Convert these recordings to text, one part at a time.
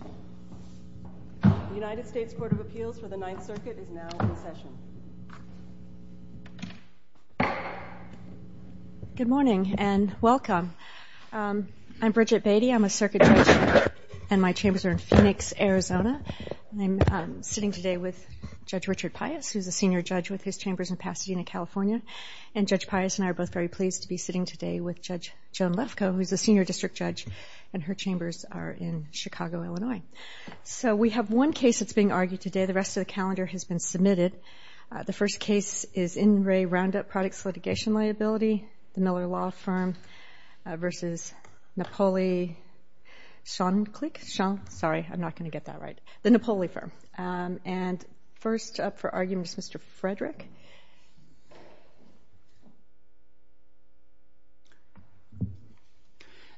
The United States Court of Appeals for the Ninth Circuit is now in session. Good morning and welcome. I'm Bridget Beatty. I'm a circuit judge and my chambers are in Phoenix, Arizona. I'm sitting today with Judge Richard Pius, who's a senior judge with his chambers in Pasadena, California. And Judge Pius and I are both very pleased to be sitting today with Judge Joan Lefkoe, who's a senior district judge, and her chambers are in Chicago, Illinois. So we have one case that's being argued today. The rest of the calendar has been submitted. The first case is In Re Roundup Products Litigation Liability, the Miller Law Firm, versus Napoli firm. And first up for argument is Mr. Frederick.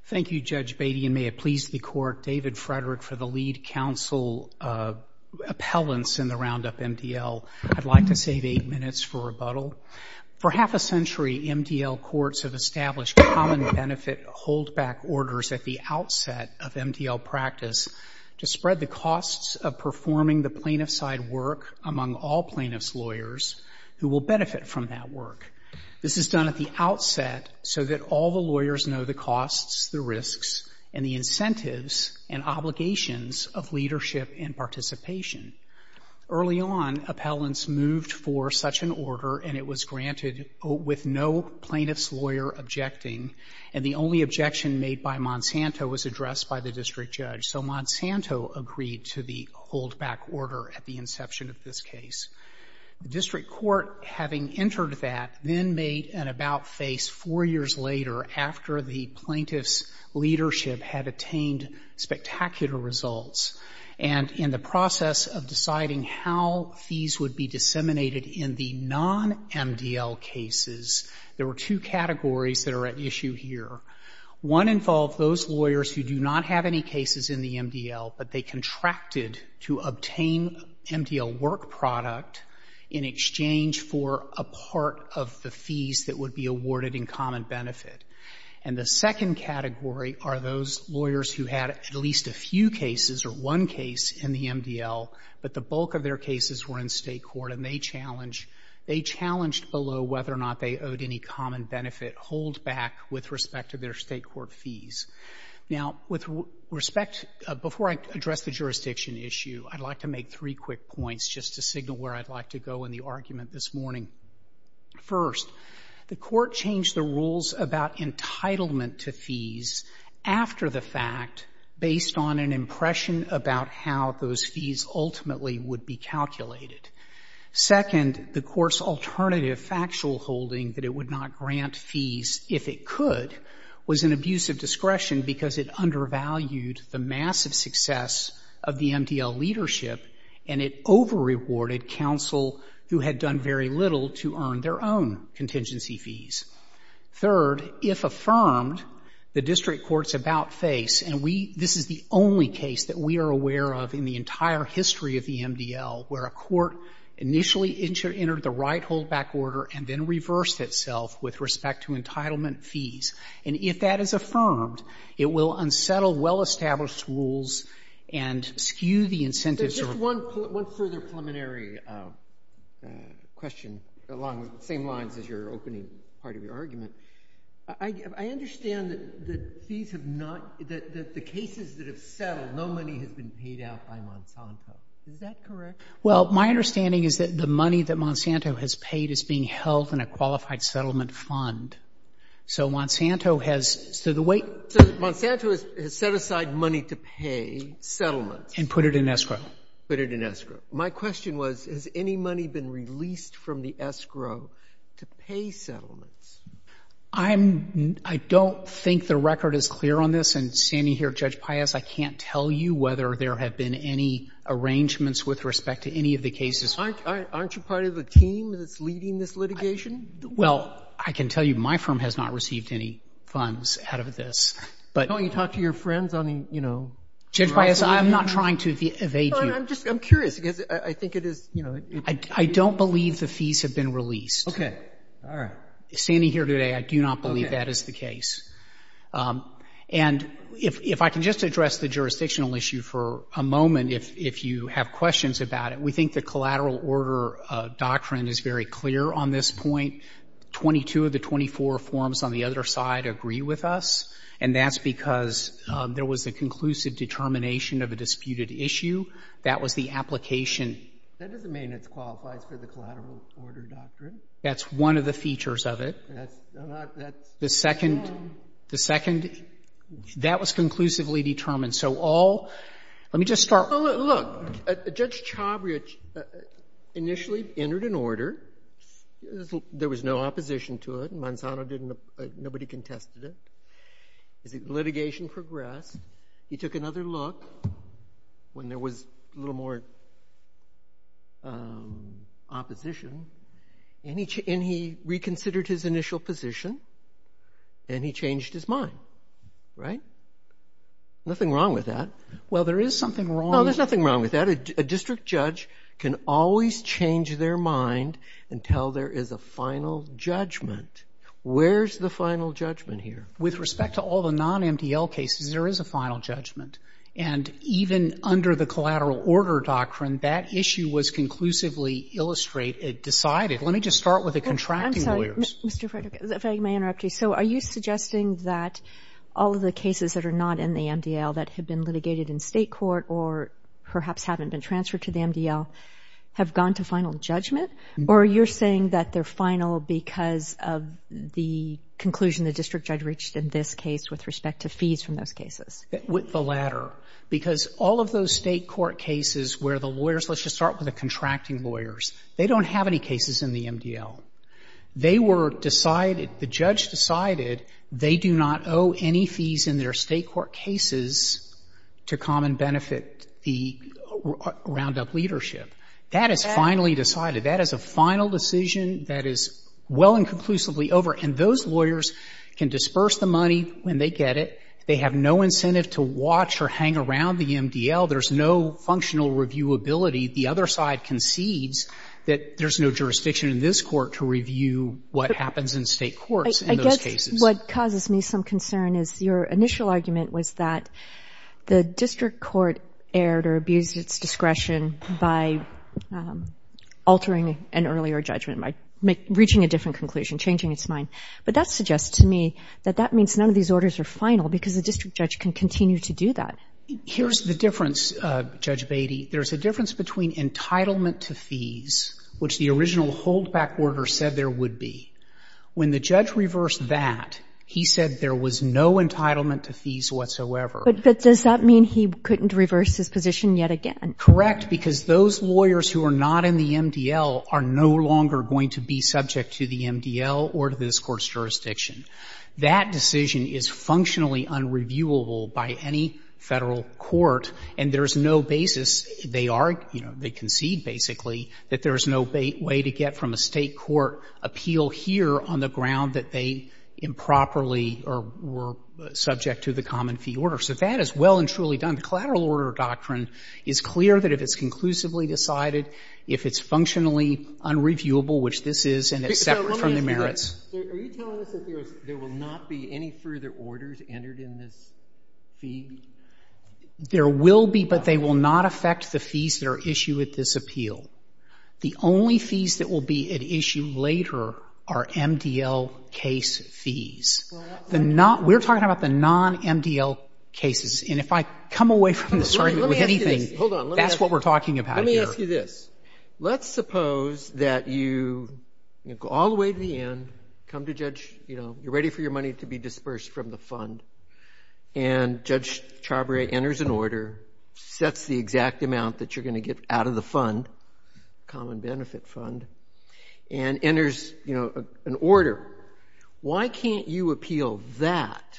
Thank you, Judge Beatty, and may it please the Court, David Frederick for the lead counsel appellants in the Roundup MDL. I'd like to save eight minutes for rebuttal. For half a century, MDL courts have established common benefit holdback orders at the outset of MDL practice to spread the costs of performing the plaintiff's side work among all plaintiff's lawyers who will benefit from that work. This is done at the outset so that all the lawyers know the costs, the risks, and the incentives and obligations of leadership and participation. Early on, appellants moved for such an order, and it was granted with no plaintiff's lawyer objecting, and the only objection made by Monsanto was addressed by the district judge. So Monsanto agreed to the holdback order at the inception of this case. The district court, having entered that, then made an about-face four years later after the plaintiff's leadership had attained spectacular results. And in the process of deciding how fees would be disseminated in the non-MDL cases, there were two categories that are at issue here. One involved those lawyers who do not have any cases in the MDL, but they contracted to obtain MDL work product in exchange for a part of the fees that would be awarded in common benefit. And the second category are those lawyers who had at least a few cases or one case in the MDL, but the bulk of their cases were in State court, and they challenged below whether or not they owed any common benefit holdback with respect to their State court fees. Now, with respect, before I address the jurisdiction issue, I would like to make three quick points just to signal where I would like to go in the argument this morning. First, the Court changed the rules about entitlement to fees after the fact, based on an impression about how those fees ultimately would be calculated. Second, the Court's alternative factual holding that it would not grant fees if it could was an abuse of discretion because it undervalued the massive success of the MDL leadership, and it overrewarded counsel who had done very little to earn their own contingency fees. Third, if affirmed, the district courts about face, and we — this is the only case that we are aware of in the entire history of the MDL, where a court initially entered the right holdback order and then reversed itself with respect to entitlement fees. And if that is affirmed, it will unsettle well-established rules and skew the incentives of the court. Sotomayor, just one further preliminary question along the same lines as your opening part of your argument. I understand that fees have not — that the cases that have settled, no money has been paid out by Monsanto. Is that correct? Well, my understanding is that the money that Monsanto has paid is being held in a qualified settlement fund. So Monsanto has — so the way — So Monsanto has set aside money to pay settlements. And put it in escrow. Put it in escrow. My question was, has any money been released from the escrow to pay settlements? I'm — I don't think the record is clear on this, and standing here, Judge Pius, I respect to any of the cases. Aren't you part of the team that's leading this litigation? Well, I can tell you my firm has not received any funds out of this. But — Why don't you talk to your friends on the, you know — Judge Pius, I'm not trying to evade you. I'm just — I'm curious, because I think it is — I don't believe the fees have been released. Okay. All right. Standing here today, I do not believe that is the case. And if I can just address the jurisdictional issue for a moment, if you have questions about it, we think the collateral order doctrine is very clear on this point. Twenty-two of the 24 forms on the other side agree with us. And that's because there was a conclusive determination of a disputed issue. That was the application. That doesn't mean it qualifies for the collateral order doctrine. That's one of the features of it. That's — The second — the second — that was conclusively determined. So all — let me just start — Look, Judge Chabria initially entered an order. There was no opposition to it. Manzano didn't — nobody contested it. As litigation progressed, he took another look when there was a little more opposition, and he reconsidered his initial position, and he changed his mind. Right? Nothing wrong with that. Well, there is something wrong — No, there's nothing wrong with that. A district judge can always change their mind until there is a final judgment. Where's the final judgment here? With respect to all the non-MDL cases, there is a final judgment. And even under the collateral order doctrine, that issue was conclusively illustrated — decided. Let me just start with the contracting lawyers. I'm sorry, Mr. Frederick. If I may interrupt you. So are you suggesting that all of the cases that are not in the MDL that have been litigated in state court or perhaps haven't been transferred to the MDL have gone to final judgment? Or are you saying that they're final because of the conclusion the district judge reached in this case with respect to fees from those cases? The latter. Because all of those state court cases where the lawyers — let's just start with the contracting lawyers. They don't have any cases in the MDL. They were decided — the judge decided they do not owe any fees in their state court cases to common benefit the Roundup leadership. That is finally decided. That is a final decision that is well and conclusively over. And those lawyers can disperse the money when they get it. They have no incentive to watch or hang around the MDL. There's no functional reviewability. The other side concedes that there's no jurisdiction in this Court to review what happens in state courts in those cases. I guess what causes me some concern is your initial argument was that the district court erred or abused its discretion by altering an earlier judgment, by reaching a different conclusion, changing its mind. But that suggests to me that that means none of these orders are final because the district judge can continue to do that. Here's the difference, Judge Beatty. There's a difference between entitlement to fees, which the original holdback order said there would be. When the judge reversed that, he said there was no entitlement to fees whatsoever. But does that mean he couldn't reverse his position yet again? Correct. Because those lawyers who are not in the MDL are no longer going to be subject to the MDL or this Court's jurisdiction. That decision is functionally unreviewable by any Federal court, and there's no basis they are, you know, they concede basically that there is no way to get from a State court appeal here on the ground that they improperly were subject to the common fee order. So that is well and truly done. The collateral order doctrine is clear that if it's conclusively decided, if it's functionally unreviewable, which this is, and it's separate from the merits. Are you telling us that there will not be any further orders entered in this fee? There will be, but they will not affect the fees that are issued at this appeal. The only fees that will be at issue later are MDL case fees. We're talking about the non-MDL cases. And if I come away from this argument with anything, that's what we're talking about here. Let me ask you this. Let's suppose that you go all the way to the end, come to judge, you know, you're waiting for your money to be dispersed from the fund. And Judge Chabre enters an order, sets the exact amount that you're going to get out of the fund, common benefit fund, and enters, you know, an order. Why can't you appeal that?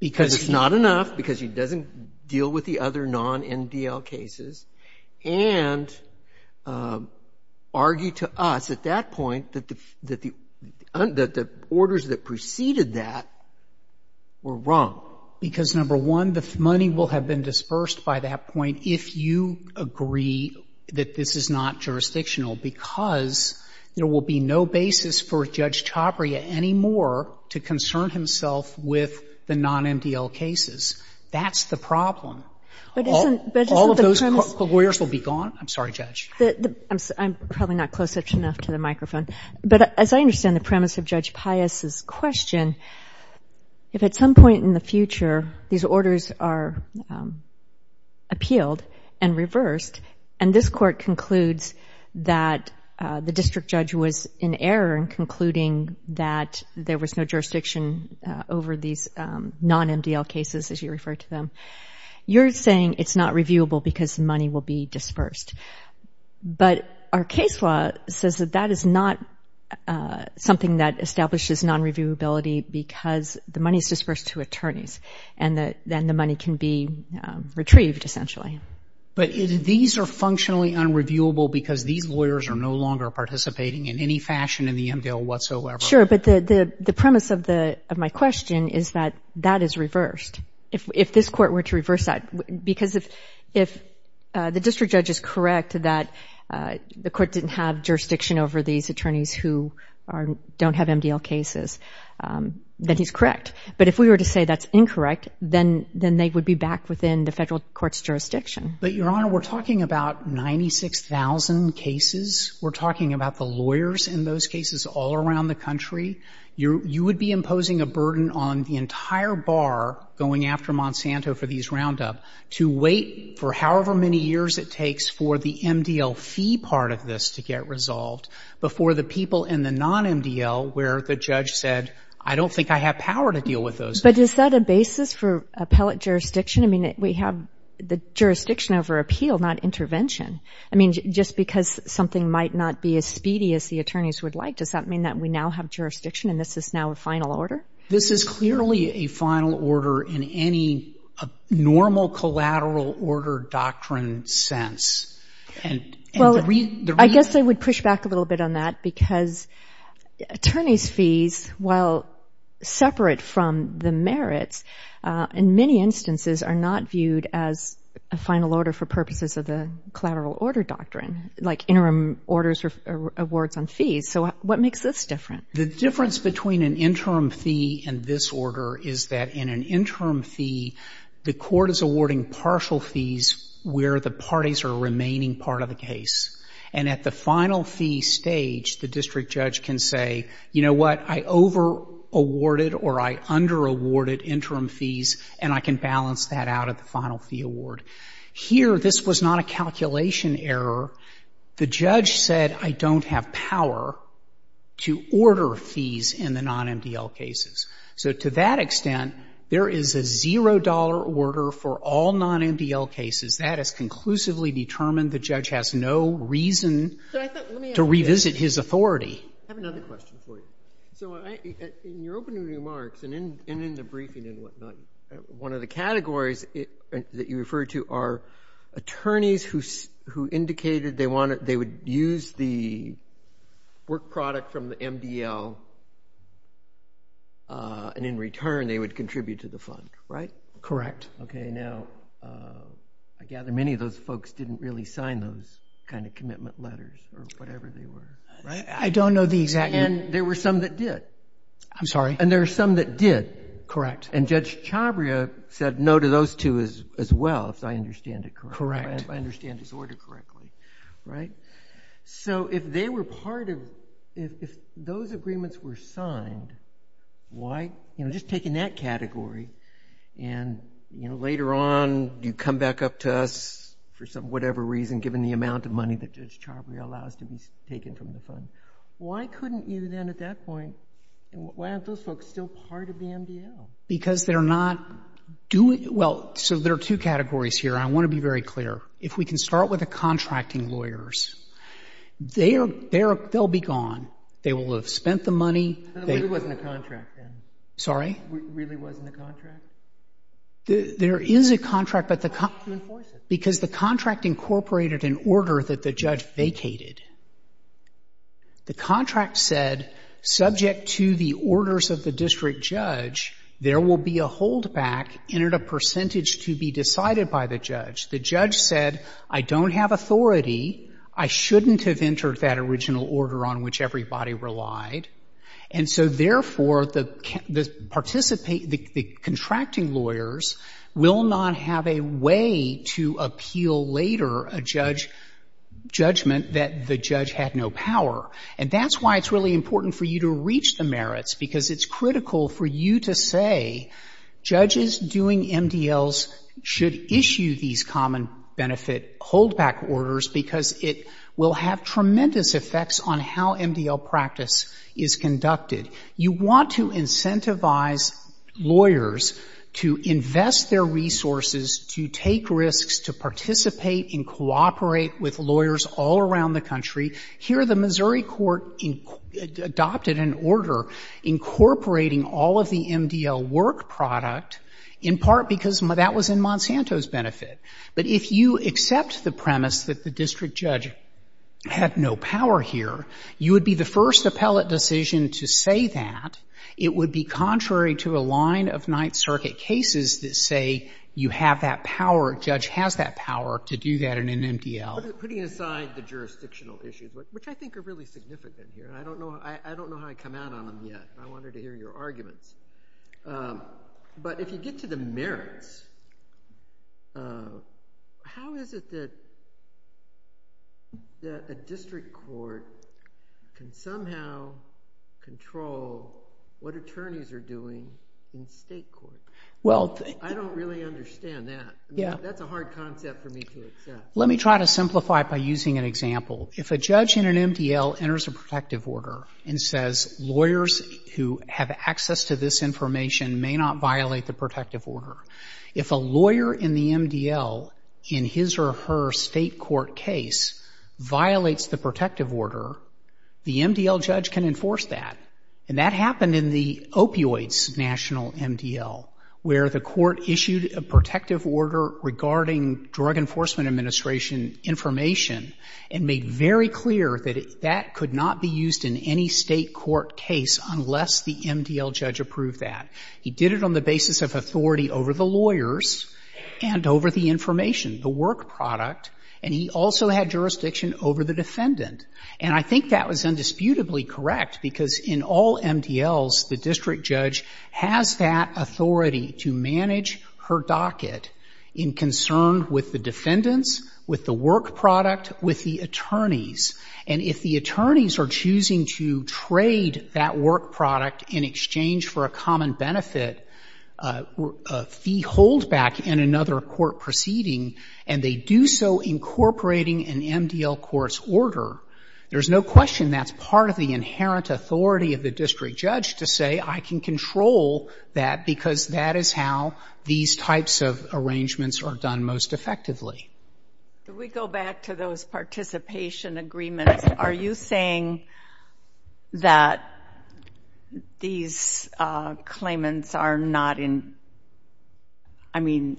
Because it's not enough, because he doesn't deal with the other non-MDL cases. And argue to us at that point that the orders that preceded that were wrong. Because, number one, the money will have been dispersed by that point if you agree that this is not jurisdictional, because there will be no basis for Judge Chabre anymore to concern himself with the non-MDL cases. That's the problem. All of those lawyers will be gone. I'm sorry, Judge. I'm probably not close enough to the microphone. But as I understand the premise of Judge Pius's question, if at some point in the future these orders are appealed and reversed, and this court concludes that the district judge was in error in concluding that there was no jurisdiction over these non-MDL cases, as you referred to them, you're saying it's not reviewable because the money will be dispersed. But our case law says that that is not something that establishes non-reviewability because the money is dispersed to attorneys, and then the money can be retrieved, essentially. But these are functionally unreviewable because these lawyers are no longer participating in any fashion in the MDL whatsoever. Sure, but the premise of my question is that that is reversed. If this court were to reverse that, because if the district judge is correct that the court didn't have jurisdiction over these attorneys who don't have MDL cases, then he's correct. But if we were to say that's incorrect, then they would be back within the federal court's jurisdiction. But, Your Honor, we're talking about 96,000 cases. We're talking about the lawyers in those cases all around the country. You would be imposing a burden on the entire bar going after Monsanto for these roundup to wait for however many years it takes for the MDL fee part of this to get resolved before the people in the non-MDL where the judge said, I don't think I have power to deal with those. But is that a basis for appellate jurisdiction? I mean, we have the jurisdiction over appeal, not intervention. I mean, just because something might not be as speedy as the attorneys would like, does that mean that we now have jurisdiction and this is now a final order? This is clearly a final order in any normal collateral order doctrine sense. Well, I guess I would push back a little bit on that because attorneys' fees, while separate from the merits, in many instances are not viewed as a final order for purposes of the collateral order doctrine, like interim orders or awards on fees. So what makes this different? The difference between an interim fee and this order is that in an interim fee, the court is awarding partial fees where the parties are remaining part of the case. And at the final fee stage, the district judge can say, you know what, I over-awarded or I under-awarded interim fees, and I can balance that out at the final fee award. Here, this was not a calculation error. The judge said, I don't have power to order fees in the non-MDL cases. So to that extent, there is a zero-dollar order for all non-MDL cases. That is conclusively determined. The judge has no reason to revisit his authority. I have another question for you. So in your opening remarks and in the briefing and whatnot, one of the categories that you referred to are attorneys who indicated they would use the work product from the MDL, and in return they would contribute to the fund, right? Correct. Okay. Now, I gather many of those folks didn't really sign those kind of commitment letters or whatever they were, right? I don't know the exact number. And there were some that did. I'm sorry? And there were some that did. Correct. And Judge Chabria said no to those two as well, if I understand it correctly. Correct. If I understand his order correctly, right? So if they were part of ñ if those agreements were signed, why ñ you know, just taking that category, and later on you come back up to us for whatever reason, given the amount of money that Judge Chabria allows to be taken from the fund, why couldn't you then at that point Why aren't those folks still part of the MDL? Because they're not doing ñ well, so there are two categories here. I want to be very clear. If we can start with the contracting lawyers, they'll be gone. They will have spent the money. There really wasn't a contract then. Sorry? There really wasn't a contract? There is a contract, but the ñ Why didn't you enforce it? Because the contract incorporated an order that the judge vacated. The contract said, subject to the orders of the district judge, there will be a holdback in a percentage to be decided by the judge. The judge said, I don't have authority. I shouldn't have entered that original order on which everybody relied. And so, therefore, the participating ñ the contracting lawyers will not have a way to appeal later a judgment that the judge had no power. And that's why it's really important for you to reach the merits, because it's critical for you to say, judges doing MDLs should issue these common benefit holdback orders because it will have tremendous effects on how MDL practice is conducted. You want to incentivize lawyers to invest their resources, to take risks, to participate and cooperate with lawyers all around the country. Here, the Missouri court adopted an order incorporating all of the MDL work product in part because that was in Monsanto's benefit. But if you accept the premise that the district judge had no power here, you would be the first appellate decision to say that. It would be contrary to a line of Ninth Circuit cases that say you have that power, a judge has that power to do that in an MDL. Putting aside the jurisdictional issues, which I think are really significant here, I don't know how I come out on them yet. I wanted to hear your arguments. But if you get to the merits, how is it that a district court can somehow control what attorneys are doing in state court? I don't really understand that. That's a hard concept for me to accept. Let me try to simplify it by using an example. If a judge in an MDL enters a protective order and says, lawyers who have access to this information may not violate the protective order, if a lawyer in the MDL, in his or her state court case, violates the protective order, the MDL judge can enforce that. And that happened in the Opioids National MDL, where the court issued a protective order regarding Drug Enforcement Administration information and made very clear that that could not be used in any state court case unless the MDL judge approved that. He did it on the basis of authority over the lawyers and over the information, the work product, and he also had jurisdiction over the defendant. And I think that was indisputably correct because in all MDLs, the district judge has that authority to manage her docket in concern with the work product, with the attorneys. And if the attorneys are choosing to trade that work product in exchange for a common benefit fee holdback in another court proceeding, and they do so incorporating an MDL court's order, there's no question that's part of the inherent authority of the district judge to say, I can control that because that is how these types of arrangements are done most effectively. Did we go back to those participation agreements? Are you saying that these claimants are not in, I mean,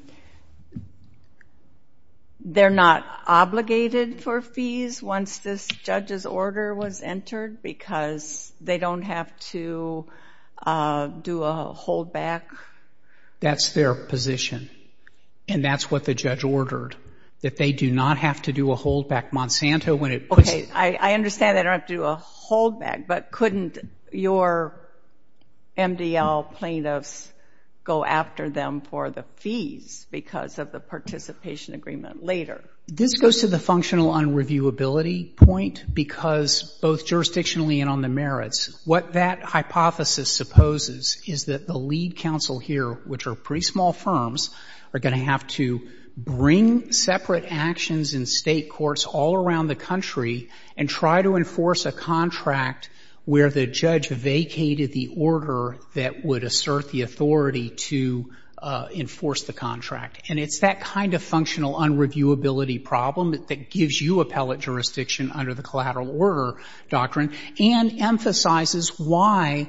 they're not obligated for fees once this judge's order was entered because they don't have to do a holdback? That's their position, and that's what the judge ordered, that they do not have to do a holdback. Monsanto, when it puts Okay, I understand they don't have to do a holdback, but couldn't your MDL plaintiffs go after them for the fees because of the participation agreement later? This goes to the functional unreviewability point because both jurisdictionally and on the merits, what that hypothesis supposes is that the lead counsel here, which are pretty small firms, are going to have to bring separate actions in state courts all around the country and try to enforce a contract where the judge vacated the order that would assert the authority to enforce the contract. And it's that kind of functional unreviewability problem that gives you appellate jurisdiction under the collateral order doctrine and emphasizes why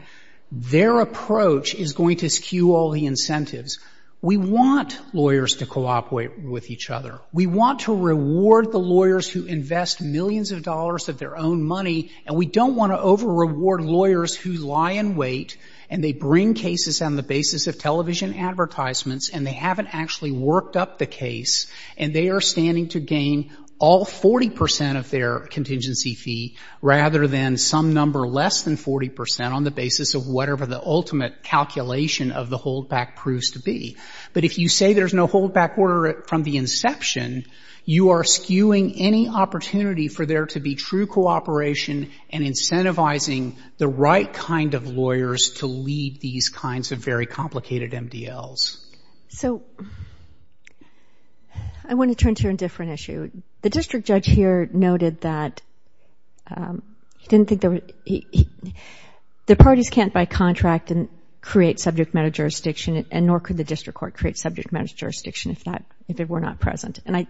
their approach is going to skew all the incentives. We want lawyers to cooperate with each other. We want to reward the lawyers who invest millions of dollars of their own money, and we don't want to over-reward lawyers who lie in wait, and they bring cases on the basis of television advertisements, and they haven't actually worked up the case, and they are standing to gain all 40 percent of their contingency fee rather than some number less than 40 percent on the basis of whatever the ultimate calculation of the holdback proves to be. But if you say there's no holdback order from the inception, you are skewing any opportunity for there to be true cooperation and incentivizing the right kind of lawyers to lead these kinds of very complicated MDLs. So I want to turn to a different issue. The district judge here noted that he didn't think there were – the parties can't buy contract and create subject matter jurisdiction, and nor could the district court create subject matter jurisdiction if it were not present. And I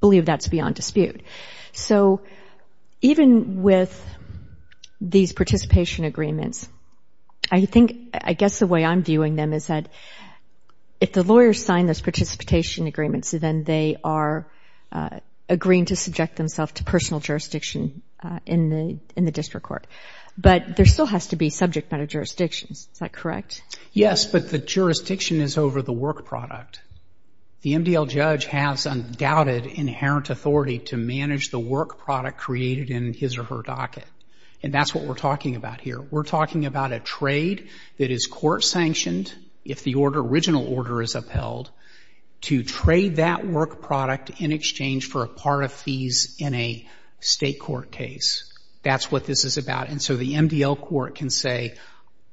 believe that's beyond dispute. So even with these participation agreements, I think – I guess the way I'm viewing them is that if the lawyers sign those participation agreements, then they are agreeing to subject themselves to personal jurisdiction in the district court. But there still has to be subject matter jurisdictions. Is that correct? Yes, but the jurisdiction is over the work product. The MDL judge has undoubted inherent authority to manage the work product created in his or her docket, and that's what we're talking about here. We're talking about a trade that is court-sanctioned if the original order is upheld, to trade that work product in exchange for a part of fees in a state court case. That's what this is about. And so the MDL court can say,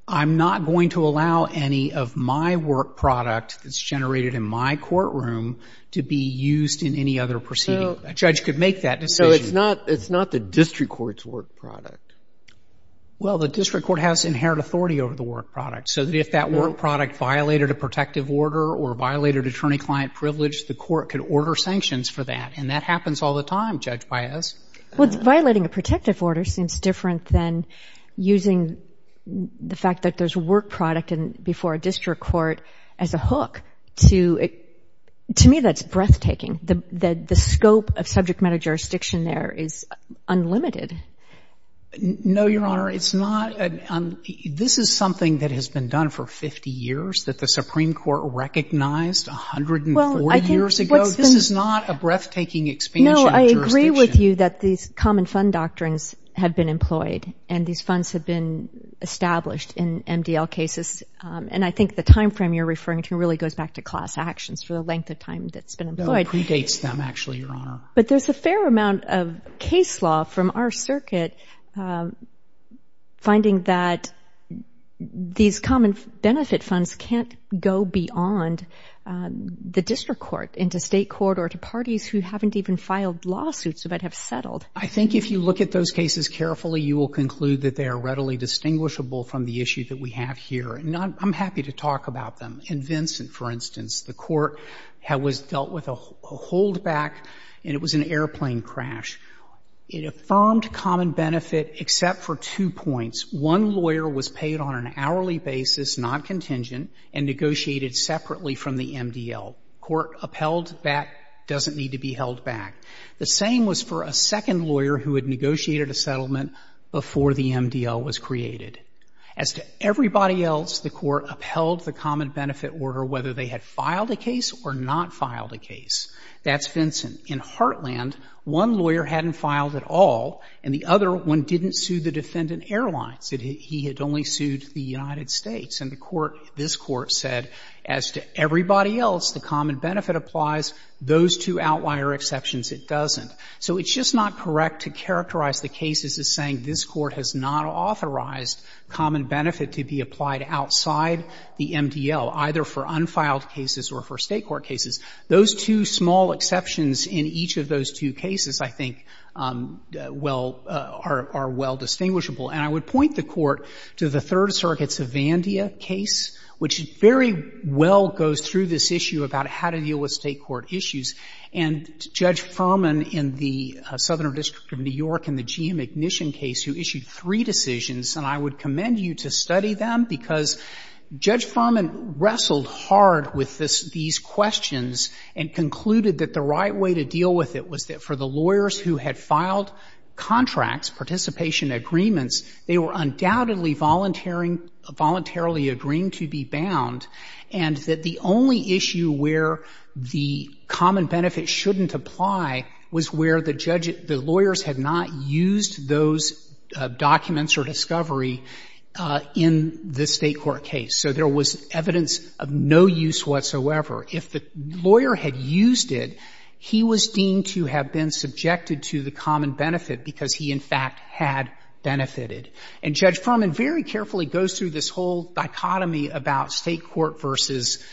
I'm not going to allow any of my work product that's generated in my courtroom to be used in any other proceeding. A judge could make that decision. So it's not the district court's work product? Well, the district court has inherent authority over the work product so that if that work product violated a protective order or violated attorney-client privilege, the court could order sanctions for that. And that happens all the time, Judge Baez. Well, violating a protective order seems different than using the fact that there's work product before a district court as a hook. To me, that's breathtaking. The scope of subject matter jurisdiction there is unlimited. No, Your Honor, it's not. This is something that has been done for 50 years, that the Supreme Court recognized 140 years ago. This is not a breathtaking expansion of jurisdiction. No, I agree with you that these common fund doctrines have been employed and these funds have been established in MDL cases. And I think the timeframe you're referring to really goes back to class No, it predates them actually, Your Honor. But there's a fair amount of case law from our circuit finding that these common benefit funds can't go beyond the district court into state court or to parties who haven't even filed lawsuits but have settled. I think if you look at those cases carefully, you will conclude that they are readily distinguishable from the issue that we have here. And I'm happy to talk about them. In Vincent, for instance, the court was dealt with a hold back and it was an airplane crash. It affirmed common benefit except for two points. One lawyer was paid on an hourly basis, not contingent, and negotiated separately from the MDL. Court upheld that doesn't need to be held back. The same was for a second lawyer who had negotiated a settlement before the MDL was created. As to everybody else, the court upheld the common benefit order whether they had filed a case or not filed a case. That's Vincent. In Heartland, one lawyer hadn't filed at all, and the other one didn't sue the defendant airlines. He had only sued the United States. And the court, this Court said, as to everybody else, the common benefit applies. Those two outlier exceptions it doesn't. So it's just not correct to characterize the cases as saying this Court has not authorized common benefit to be applied outside the MDL, either for unfiled cases or for State court cases. Those two small exceptions in each of those two cases, I think, well, are well distinguishable. And I would point the Court to the Third Circuit's Avandia case, which very well goes through this issue about how to deal with State court issues. And Judge Furman in the Southern District of New York in the GM Ignition case, who issued three decisions, and I would commend you to study them, because Judge Furman wrestled hard with these questions and concluded that the right way to deal with it was that for the lawyers who had filed contracts, participation agreements, they were undoubtedly voluntarily agreeing to be bound, and that the only issue where the common benefit shouldn't apply was where the lawyers had not used those documents or discovery in the State court case. So there was evidence of no use whatsoever. If the lawyer had used it, he was deemed to have been subjected to the common benefit because he, in fact, had benefited. And Judge Furman very carefully goes through this whole dichotomy about State court versus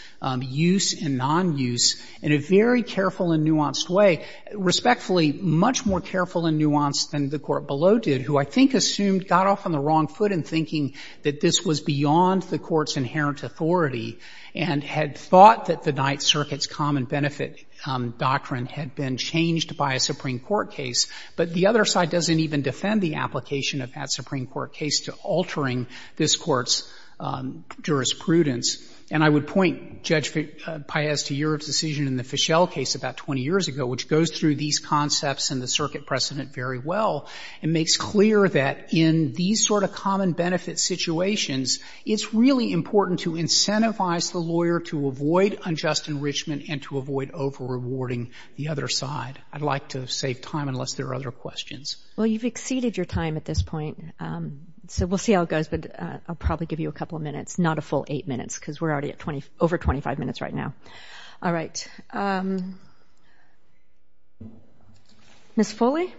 use and nonuse in a very careful and nuanced way, respectfully much more careful and nuanced than the Court below did, who I think assumed, got off on the wrong foot in thinking that this was beyond the Court's inherent authority and had thought that the Ninth Circuit's common benefit doctrine had been changed by a Supreme Court case. But the other side doesn't even defend the application of that Supreme Court case to altering this Court's jurisprudence. And I would point, Judge Paez, to your decision in the Fischel case about 20 years ago, which goes through these concepts and the Circuit precedent very well and makes clear that in these sort of common benefit situations, it's really important to incentivize the lawyer to avoid unjust enrichment and to avoid over-rewarding the other side. I'd like to save time unless there are other questions. Well, you've exceeded your time at this point, so we'll see how it goes. But I'll probably give you a couple of minutes, not a full eight minutes because we're already at over 25 minutes right now. All right. Ms. Foley?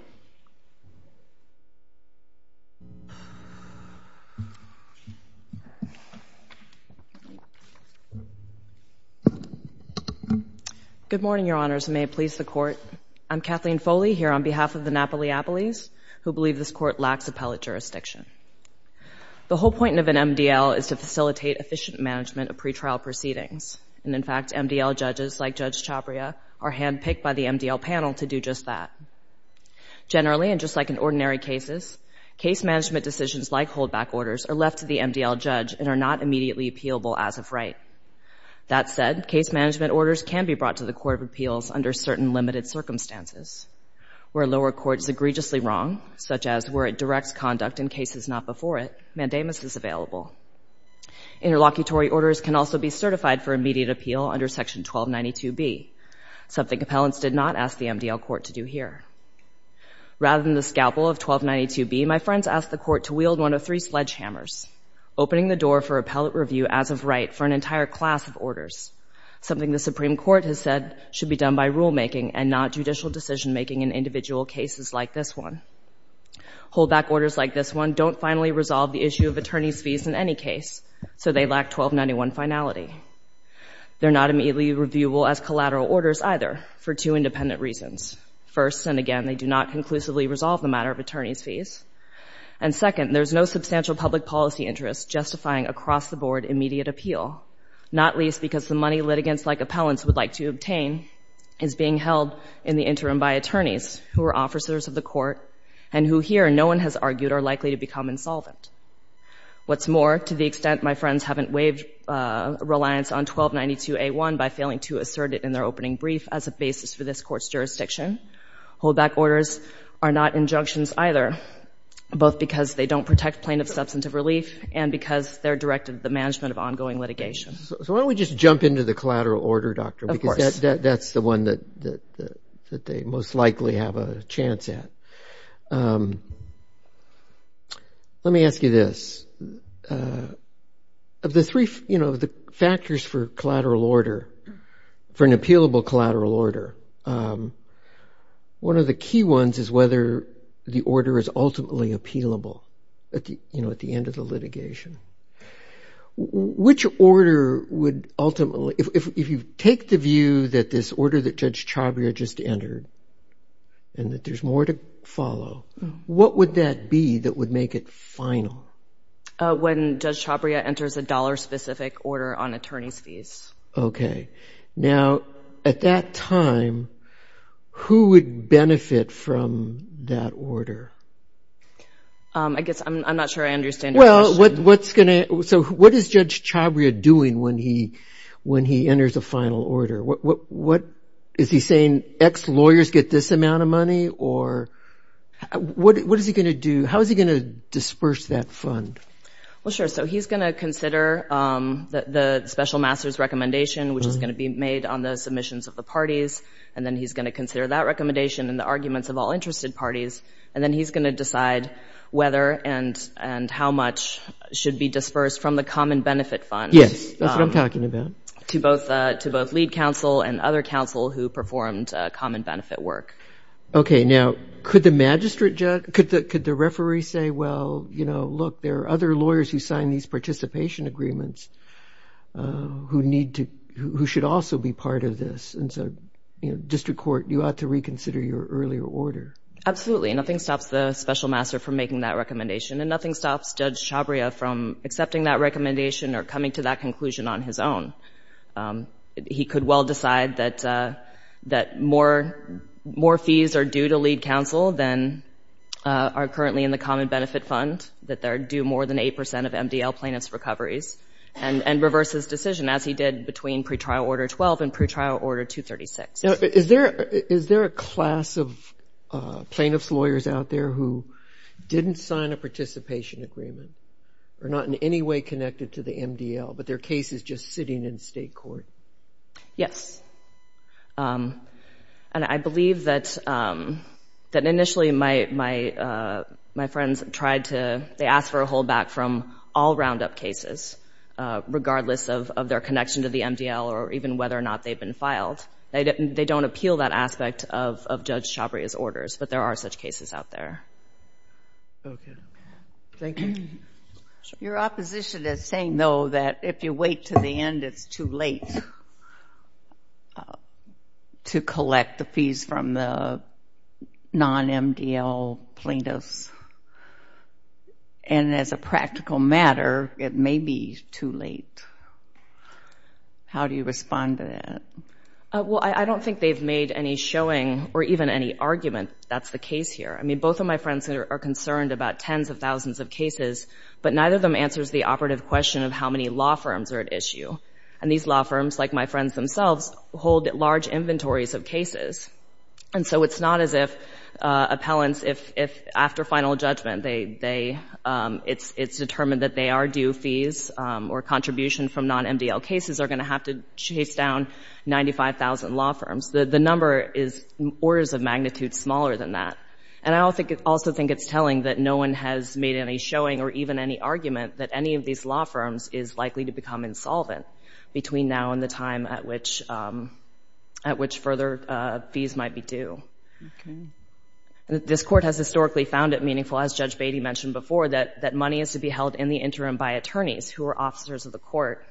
Good morning, Your Honors, and may it please the Court. I'm Kathleen Foley here on behalf of the Napoliapolis, who believe this Court lacks appellate jurisdiction. The whole point of an MDL is to facilitate efficient management of pretrial proceedings. And, in fact, MDL judges, like Judge Chabria, are handpicked by the MDL panel to do just that. Generally, and just like in ordinary cases, case management decisions like holdback orders are left to the MDL judge and are not immediately appealable as of right. That said, case management orders can be brought to the Court of Appeals under certain limited circumstances, where a lower court is egregiously wrong, such as where it directs conduct in cases not before it. Mandamus is available. Interlocutory orders can also be certified for immediate appeal under Section 1292B, something appellants did not ask the MDL Court to do here. Rather than the scalpel of 1292B, my friends asked the Court to wield one of three sledgehammers, opening the door for appellate review as of right for an entire class of orders, something the Supreme Court has said should be done by rulemaking and not Holdback orders like this one don't finally resolve the issue of attorneys' fees in any case, so they lack 1291 finality. They're not immediately reviewable as collateral orders, either, for two independent reasons. First, and again, they do not conclusively resolve the matter of attorneys' fees. And second, there's no substantial public policy interest justifying across-the-board immediate appeal, not least because the money litigants, like appellants, would like to obtain is being held in the interim by attorneys who are officers of the Court and who here, no one has argued, are likely to become insolvent. What's more, to the extent my friends haven't waived reliance on 1292A1 by failing to assert it in their opening brief as a basis for this Court's jurisdiction, Holdback orders are not injunctions, either, both because they don't protect plaintiff's substantive relief and because they're directed to the management of ongoing litigation. So why don't we just jump into the collateral order, Doctor? Of course. That's the one that they most likely have a chance at. Let me ask you this. Of the three factors for collateral order, for an appealable collateral order, one of the key ones is whether the order is ultimately appealable at the end of the litigation. Which order would ultimately, if you take the view that this order that Judge Chabria just entered and that there's more to follow, what would that be that would make it final? When Judge Chabria enters a dollar-specific order on attorney's fees. Okay. Now, at that time, who would benefit from that order? I guess I'm not sure I understand your question. Well, so what is Judge Chabria doing when he enters a final order? Is he saying ex-lawyers get this amount of money? What is he going to do? How is he going to disperse that fund? Well, sure. So he's going to consider the special master's recommendation, which is going to be made on the submissions of the parties, and then he's going to consider that recommendation and the arguments of all which should be dispersed from the common benefit fund. Yes, that's what I'm talking about. To both lead counsel and other counsel who performed common benefit work. Okay. Now, could the referee say, well, you know, look, there are other lawyers who signed these participation agreements who should also be part of this? And so district court, you ought to reconsider your earlier order. Absolutely. Nothing stops the special master from making that recommendation, and nothing stops Judge Chabria from accepting that recommendation or coming to that conclusion on his own. He could well decide that more fees are due to lead counsel than are currently in the common benefit fund, that they're due more than 8% of MDL plaintiff's recoveries, and reverse his decision, as he did between pretrial order 12 and pretrial order 236. Now, is there a class of plaintiff's lawyers out there who didn't sign a participation agreement or not in any way connected to the MDL, but their case is just sitting in state court? Yes. And I believe that initially my friends tried to, they asked for a hold back from all round up cases, regardless of their connection to the MDL or even whether or not they'd been filed. They don't appeal that aspect of Judge Chabria's orders, but there are such cases out there. Okay. Thank you. Your opposition is saying, though, that if you wait to the end, it's too late to collect the fees from the non-MDL plaintiffs. And as a practical matter, it may be too late. How do you respond to that? Well, I don't think they've made any showing or even any argument that's the case here. I mean, both of my friends are concerned about tens of thousands of cases, but neither of them answers the operative question of how many law firms are at issue. And these law firms, like my friends themselves, hold large inventories of cases. And so it's not as if appellants, if after final judgment, it's determined that they are due fees or contribution from non-MDL cases, are going to have to chase down 95,000 law firms. The number is orders of magnitude smaller than that. And I also think it's telling that no one has made any showing or even any argument that any of these law firms is likely to become insolvent between now and the time at which further fees might be due. Okay. This Court has historically found it meaningful, as Judge Beatty mentioned before, that money is to be held in the interim by attorneys who are officers of the Court.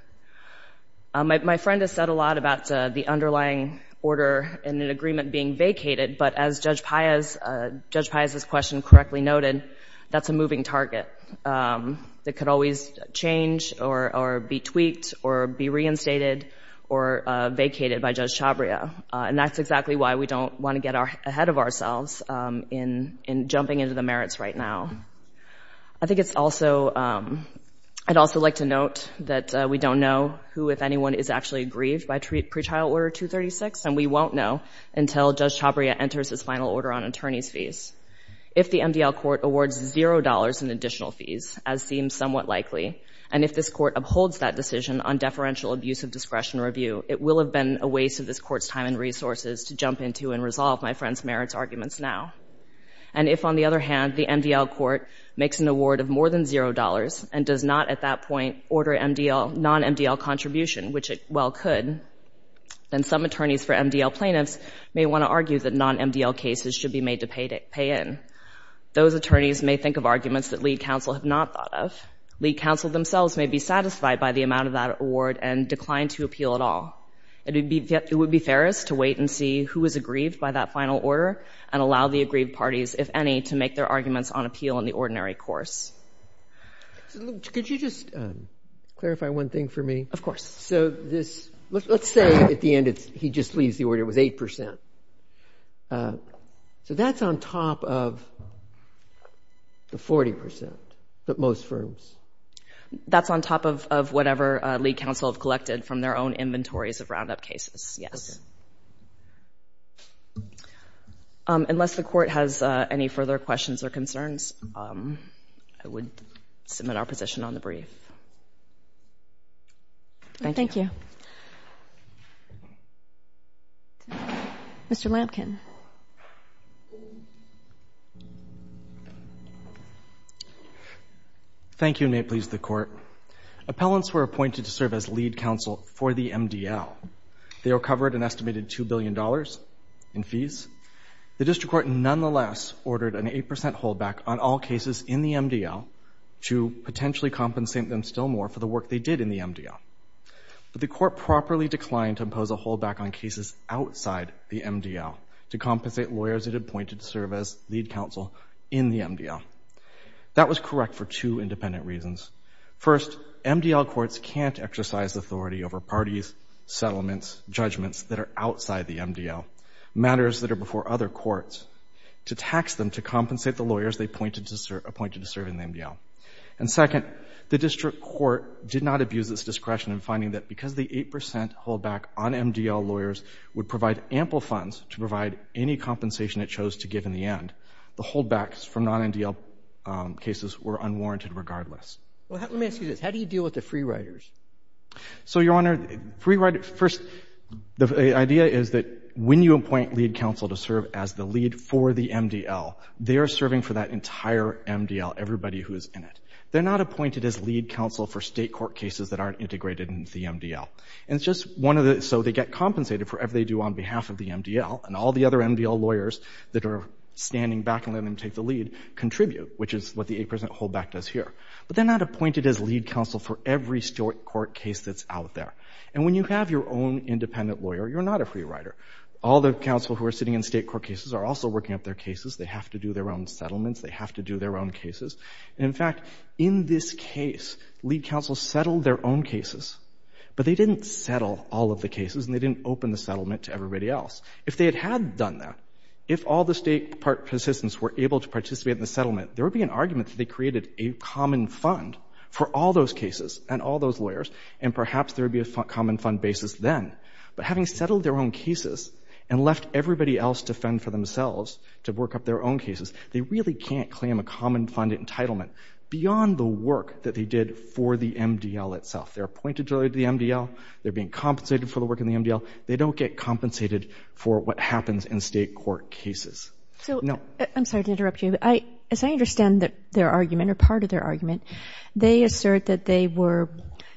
My friend has said a lot about the underlying order and an agreement being vacated, but as Judge Paez's question correctly noted, that's a moving target that could always change or be tweaked or be reinstated or vacated by Judge Shabria. And that's exactly why we don't want to get ahead of ourselves in jumping into the merits right now. I think it's also... I'd also like to note that we don't know who, if anyone, is actually aggrieved by Pretrial Order 236, and we won't know until Judge Shabria enters his final order on attorney's fees. If the MDL Court awards $0 in additional fees, as seems somewhat likely, and if this Court upholds that decision on deferential abuse of discretion review, it will have been a waste of this Court's time and resources to jump into and resolve my friend's merits arguments now. And if, on the other hand, the MDL Court makes an award of more than $0 and does not at that point order non-MDL contribution, which it well could, then some attorneys for MDL plaintiffs may want to argue that non-MDL cases should be made to pay in. Those attorneys may think of arguments that lead counsel have not thought of. Lead counsel themselves may be satisfied by the amount of that award and decline to appeal at all. It would be fairest to wait and see who is aggrieved by that final order and allow the aggrieved parties, if any, to make their arguments on appeal in the ordinary course. Could you just clarify one thing for me? Of course. So this, let's say at the end he just leaves the order, it was 8%. So that's on top of the 40% that most firms... That's on top of whatever lead counsel have collected from their own inventories of roundup cases, yes. Unless the Court has any further questions or concerns, I would submit our position on the brief. Thank you. Thank you. Mr. Lampkin. Thank you. Thank you, and may it please the Court. Appellants were appointed to serve as lead counsel for the MDL. They were covered an estimated $2 billion in fees. The District Court nonetheless ordered an 8% holdback on all cases in the MDL to potentially compensate them still more for the work they did in the MDL. But the Court properly declined to impose a holdback on cases outside the MDL to compensate lawyers it appointed to serve as lead counsel in the MDL. That was correct for two independent reasons. First, MDL courts can't exercise authority over parties, settlements, judgments that are outside the MDL, matters that are before other courts, to tax them to compensate the lawyers they appointed to serve in the MDL. And second, the District Court did not abuse its discretion in finding that because the 8% holdback on MDL lawyers would provide ample funds to provide any compensation it chose to give in the end, the holdbacks from non-MDL cases were unwarranted regardless. Well, let me ask you this. How do you deal with the free riders? So, Your Honor, free riders, first, the idea is that when you appoint lead counsel to serve as the lead for the MDL, they are serving for that entire MDL, everybody who is in it. They're not appointed as lead counsel for state court cases that aren't integrated into the MDL. And it's just one of the—so they get compensated for everything they do on behalf of the MDL, and all the other MDL lawyers that are standing back and letting them take the lead contribute, which is what the 8% holdback does here. But they're not appointed as lead counsel for every state court case that's out there. And when you have your own independent lawyer, you're not a free rider. All the counsel who are sitting in state court cases are also working up their cases. They have to do their own settlements. They have to do their own cases. And, in fact, in this case, lead counsel settled their own cases. But they didn't settle all of the cases, and they didn't open the settlement to everybody else. If they had done that, if all the state participants were able to participate in the settlement, there would be an argument that they created a common fund for all those cases and all those lawyers, and perhaps there would be a common fund basis then. But having settled their own cases and left everybody else to fend for themselves to work up their own cases, they really can't claim a common fund entitlement beyond the work that they did for the MDL itself. They're appointed to the MDL. They're being compensated for the work in the MDL. They don't get compensated for what happens in state court cases. No. I'm sorry to interrupt you. As I understand their argument or part of their argument, they assert that they were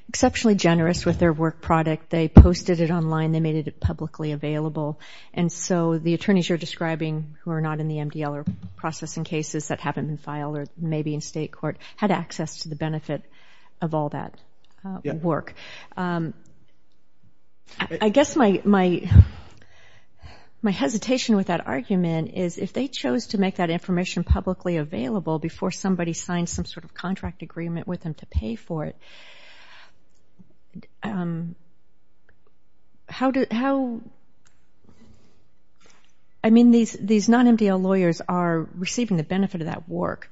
exceptionally generous with their work product. They posted it online. They made it publicly available. And so the attorneys you're describing who are not in the MDL or processing cases that haven't been filed or maybe in state court had access to the benefit of all that work. I guess my hesitation with that argument is if they chose to make that information publicly available before somebody signs some sort of contract agreement with them to pay for it, I mean these non-MDL lawyers are receiving the benefit of that work.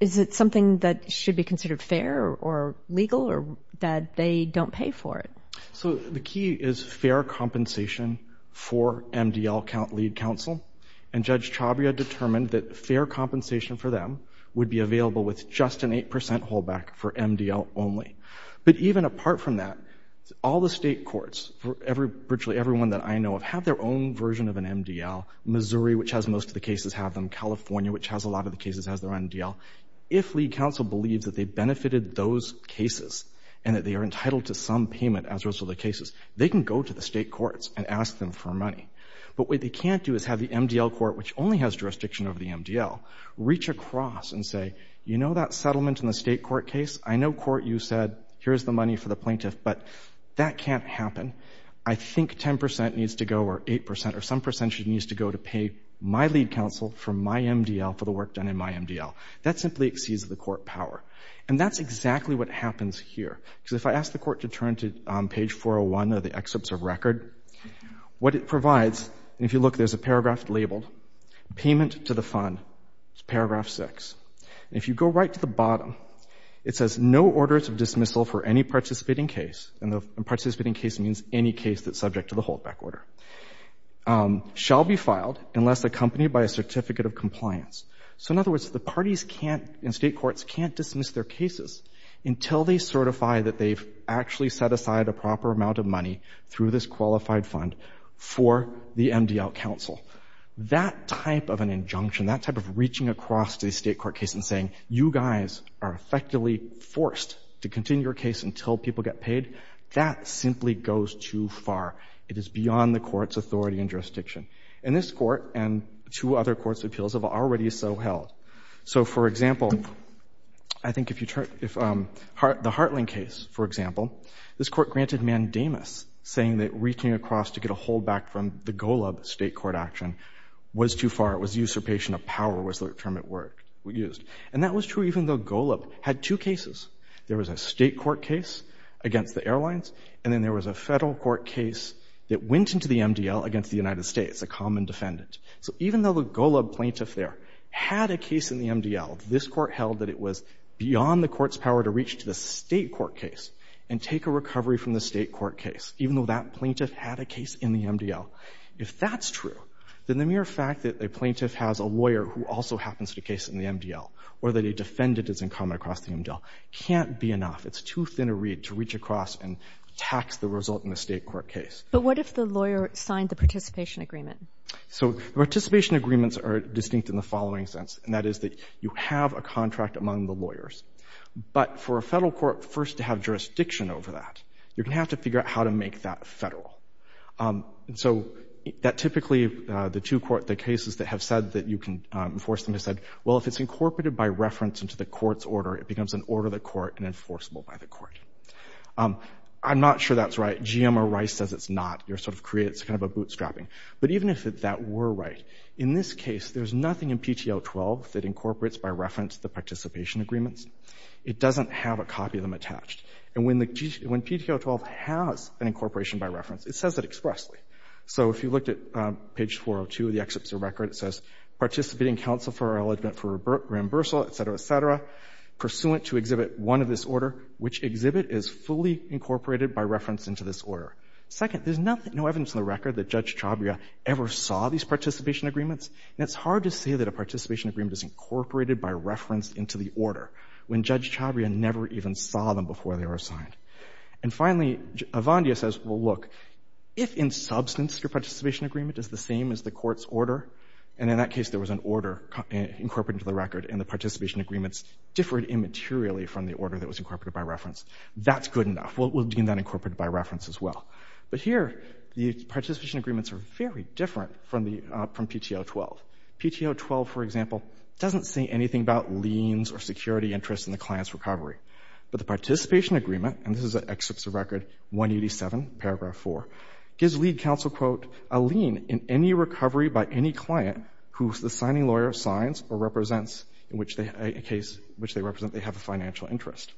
Is it something that should be considered fair or legal or that they don't pay for it? So the key is fair compensation for MDL lead counsel. And Judge Chabria determined that fair compensation for them would be available with just an 8% holdback for MDL only. But even apart from that, all the state courts, virtually everyone that I know of, have their own version of an MDL. Missouri, which has most of the cases, have them. California, which has a lot of the cases, has their own MDL. If lead counsel believes that they benefited those cases and that they are entitled to some payment as a result of the cases, they can go to the state courts and ask them for money. But what they can't do is have the MDL court, which only has jurisdiction over the MDL, reach across and say, you know that settlement in the state court case? I know, court, you said here's the money for the plaintiff, but that can't happen. I think 10% needs to go or 8% or some percentage needs to go to pay my lead counsel for my MDL for the work done in my MDL. That simply exceeds the court power. And that's exactly what happens here. Because if I ask the court to turn to page 401 of the excerpts of record, what it provides, and if you look, there's a paragraph labeled, payment to the fund, paragraph 6. And if you go right to the bottom, it says, no orders of dismissal for any participating case, and the participating case means any case that's subject to the holdback order, shall be filed unless accompanied by a certificate of compliance. So in other words, the parties can't, and state courts can't dismiss their cases through this qualified fund for the MDL counsel. That type of an injunction, that type of reaching across to the state court case and saying, you guys are effectively forced to continue your case until people get paid, that simply goes too far. It is beyond the court's authority and jurisdiction. And this court and two other courts' appeals have already so held. So for example, I think if you try, if the Hartling case, for example, this court granted mandamus saying that reaching across to get a holdback from the Golub state court action was too far, it was usurpation of power was the term it used. And that was true even though Golub had two cases. There was a state court case against the airlines, and then there was a federal court case that went into the MDL against the United States, a common defendant. So even though the Golub plaintiff there had a case in the MDL, this court held that it was beyond the court's power to reach to the state court case and take a recovery from the state court case, even though that plaintiff had a case in the MDL. If that's true, then the mere fact that a plaintiff has a lawyer who also happens to have a case in the MDL or that a defendant is in common across the MDL can't be enough. It's too thin a reed to reach across and tax the result in a state court case. But what if the lawyer signed the participation agreement? So the participation agreements are distinct in the following sense, and that is that you have a contract among the lawyers. But for a federal court first to have jurisdiction over that, you're going to have to figure out how to make that federal. So that typically, the two cases that have said that you can enforce them have said, well, if it's incorporated by reference into the court's order, it becomes an order of the court and enforceable by the court. I'm not sure that's right. GMO Rice says it's not. It sort of creates kind of a bootstrapping. But even if that were right, in this case, there's nothing in PTO 12 that incorporates by reference the participation agreements. It doesn't have a copy of them attached. And when PTO 12 has an incorporation by reference, it says it expressly. So if you looked at page 402 of the excerpts of the record, it says participating counsel for our allegement for reimbursal, et cetera, et cetera, pursuant to exhibit one of this order, which exhibit is fully incorporated by reference into this order. Second, there's no evidence in the record that Judge Chabria ever saw these participation agreements, and it's hard to say that a participation agreement is incorporated by reference into the order when Judge Chabria never even saw them before they were assigned. And finally, Avandia says, well, look, if in substance your participation agreement is the same as the court's order, and in that case there was an order incorporated into the record and the participation agreements differed immaterially from the order that was incorporated by reference, that's good enough. We'll deem that incorporated by reference as well. But here, the participation agreements are very different from PTO 12. PTO 12, for example, doesn't say anything about liens or security interest in the client's recovery. But the participation agreement, and this is the excerpts of record 187, paragraph 4, gives lead counsel, quote, a lien in any recovery by any client who the signing lawyer signs or represents, in which they represent they have a financial interest.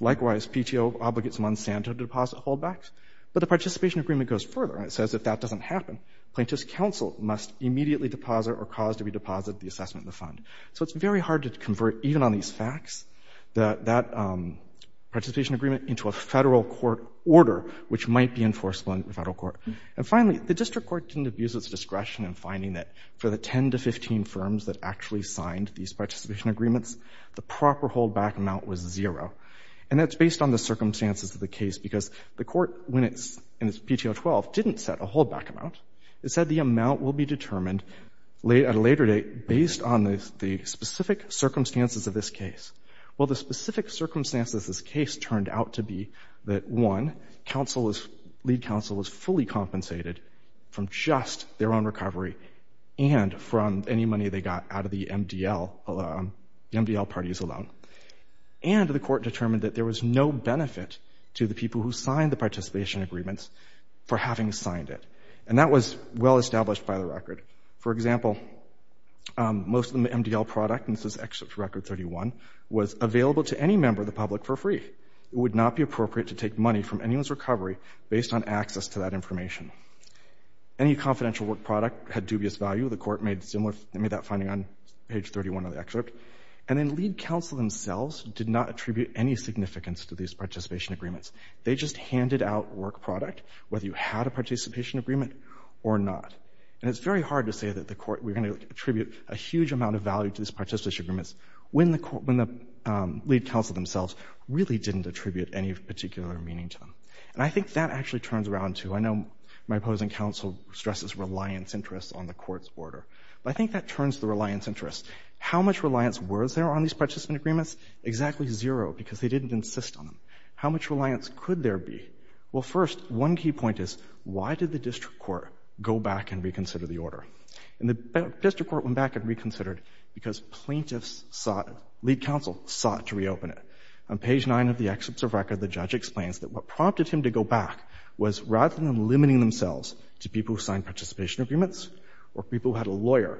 Likewise, PTO obligates Monsanto to deposit holdbacks, but the participation agreement goes further, and it says if that doesn't happen, plaintiff's counsel must immediately deposit or cause to be deposited the assessment of the fund. So it's very hard to convert, even on these facts, that participation agreement into a federal court order, which might be enforceable in the federal court. And finally, the district court didn't abuse its discretion in finding that for the 10 to 15 firms that actually signed these participation agreements, the proper holdback amount was zero. And that's based on the circumstances of the case, because the court, in its PTO 12, didn't set a holdback amount. It said the amount will be determined at a later date based on the specific circumstances of this case. Well, the specific circumstances of this case turned out to be that, one, lead counsel was fully compensated from just their own recovery and from any money they got out of the MDL parties alone. And the court determined that there was no benefit to the people who signed the participation agreements for having signed it. And that was well established by the record. For example, most of the MDL product, and this is except for Record 31, was available to any member of the public for free. It would not be appropriate to take money from anyone's recovery based on access to that information. Any confidential work product had dubious value. The court made that finding on page 31 of the excerpt. And then lead counsel themselves did not attribute any significance to these participation agreements. They just handed out work product, whether you had a participation agreement or not. And it's very hard to say that the court were going to attribute a huge amount of value to these participation agreements when the lead counsel themselves really didn't attribute any particular meaning to them. And I think that actually turns around to, I know my opposing counsel stresses reliance interest on the court's order. I think that turns the reliance interest. How much reliance was there on these participation agreements? Exactly zero, because they didn't insist on them. How much reliance could there be? Well, first, one key point is, why did the district court go back and reconsider the order? And the district court went back and reconsidered because plaintiffs sought, lead counsel sought to reopen it. On page 9 of the excerpt of Record, the judge explains that what prompted him to go back was rather than limiting themselves to people who signed participation agreements or people who had a lawyer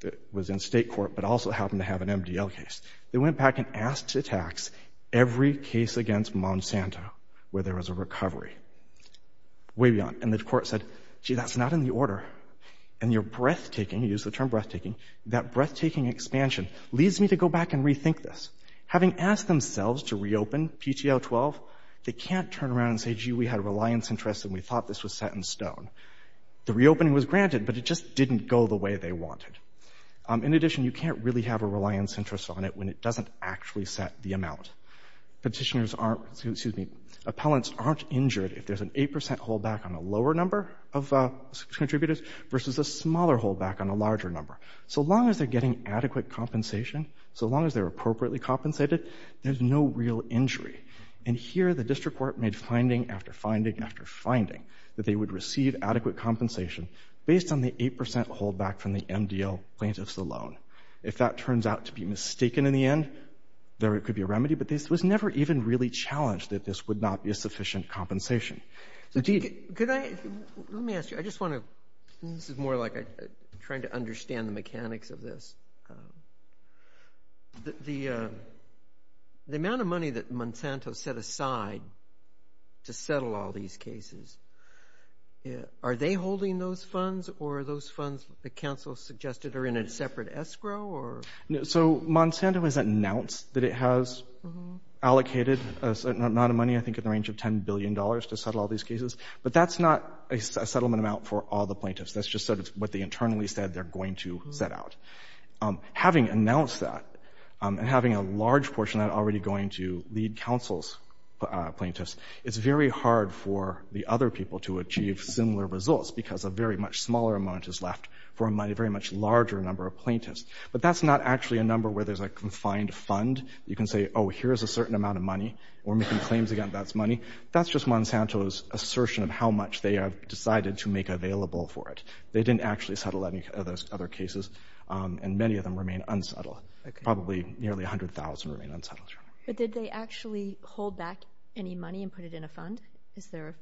that was in state court but also happened to have an MDL case, they went back and asked to tax every case against Monsanto where there was a recovery, way beyond. And the court said, gee, that's not in the order. And you're breathtaking, you use the term breathtaking, that breathtaking expansion leads me to go back and rethink this. Having asked themselves to reopen PTO 12, they can't turn around and say, gee, we had a reliance interest and we thought this was set in stone. The reopening was granted, but it just didn't go the way they wanted. In addition, you can't really have a reliance interest on it when it doesn't actually set the amount. Petitioners aren't, excuse me, appellants aren't injured if there's an 8% holdback on a lower number of contributors versus a smaller holdback on a larger number. So long as they're getting adequate compensation, so long as they're appropriately compensated, there's no real injury. And here the district court made finding after finding after finding that they would receive adequate compensation based on the 8% holdback from the MDL plaintiffs alone. If that turns out to be mistaken in the end, there could be a remedy, but this was never even really challenged that this would not be a sufficient compensation. Let me ask you, I just want to... This is more like I'm trying to understand the mechanics of this. The amount of money that Monsanto set aside to settle all these cases, are they holding those funds or are those funds, the council suggested, are in a separate escrow or...? So Monsanto has announced that it has allocated a certain amount of money, I think, in the range of $10 billion to settle all these cases, but that's not a settlement amount for all the plaintiffs. That's just what they internally said they're going to set out. Having announced that, and having a large portion of that already going to lead council's plaintiffs, it's very hard for the other people to achieve similar results because a very much smaller amount is left for a very much larger number of plaintiffs. But that's not actually a number where there's a confined fund. You can say, oh, here's a certain amount of money, or making claims again that's money. That's just Monsanto's assertion of how much they have decided to make available for it. They didn't actually settle any of those other cases, and many of them remain unsettled. Probably nearly 100,000 remain unsettled. But did they actually hold back any money and put it in a fund? Is there a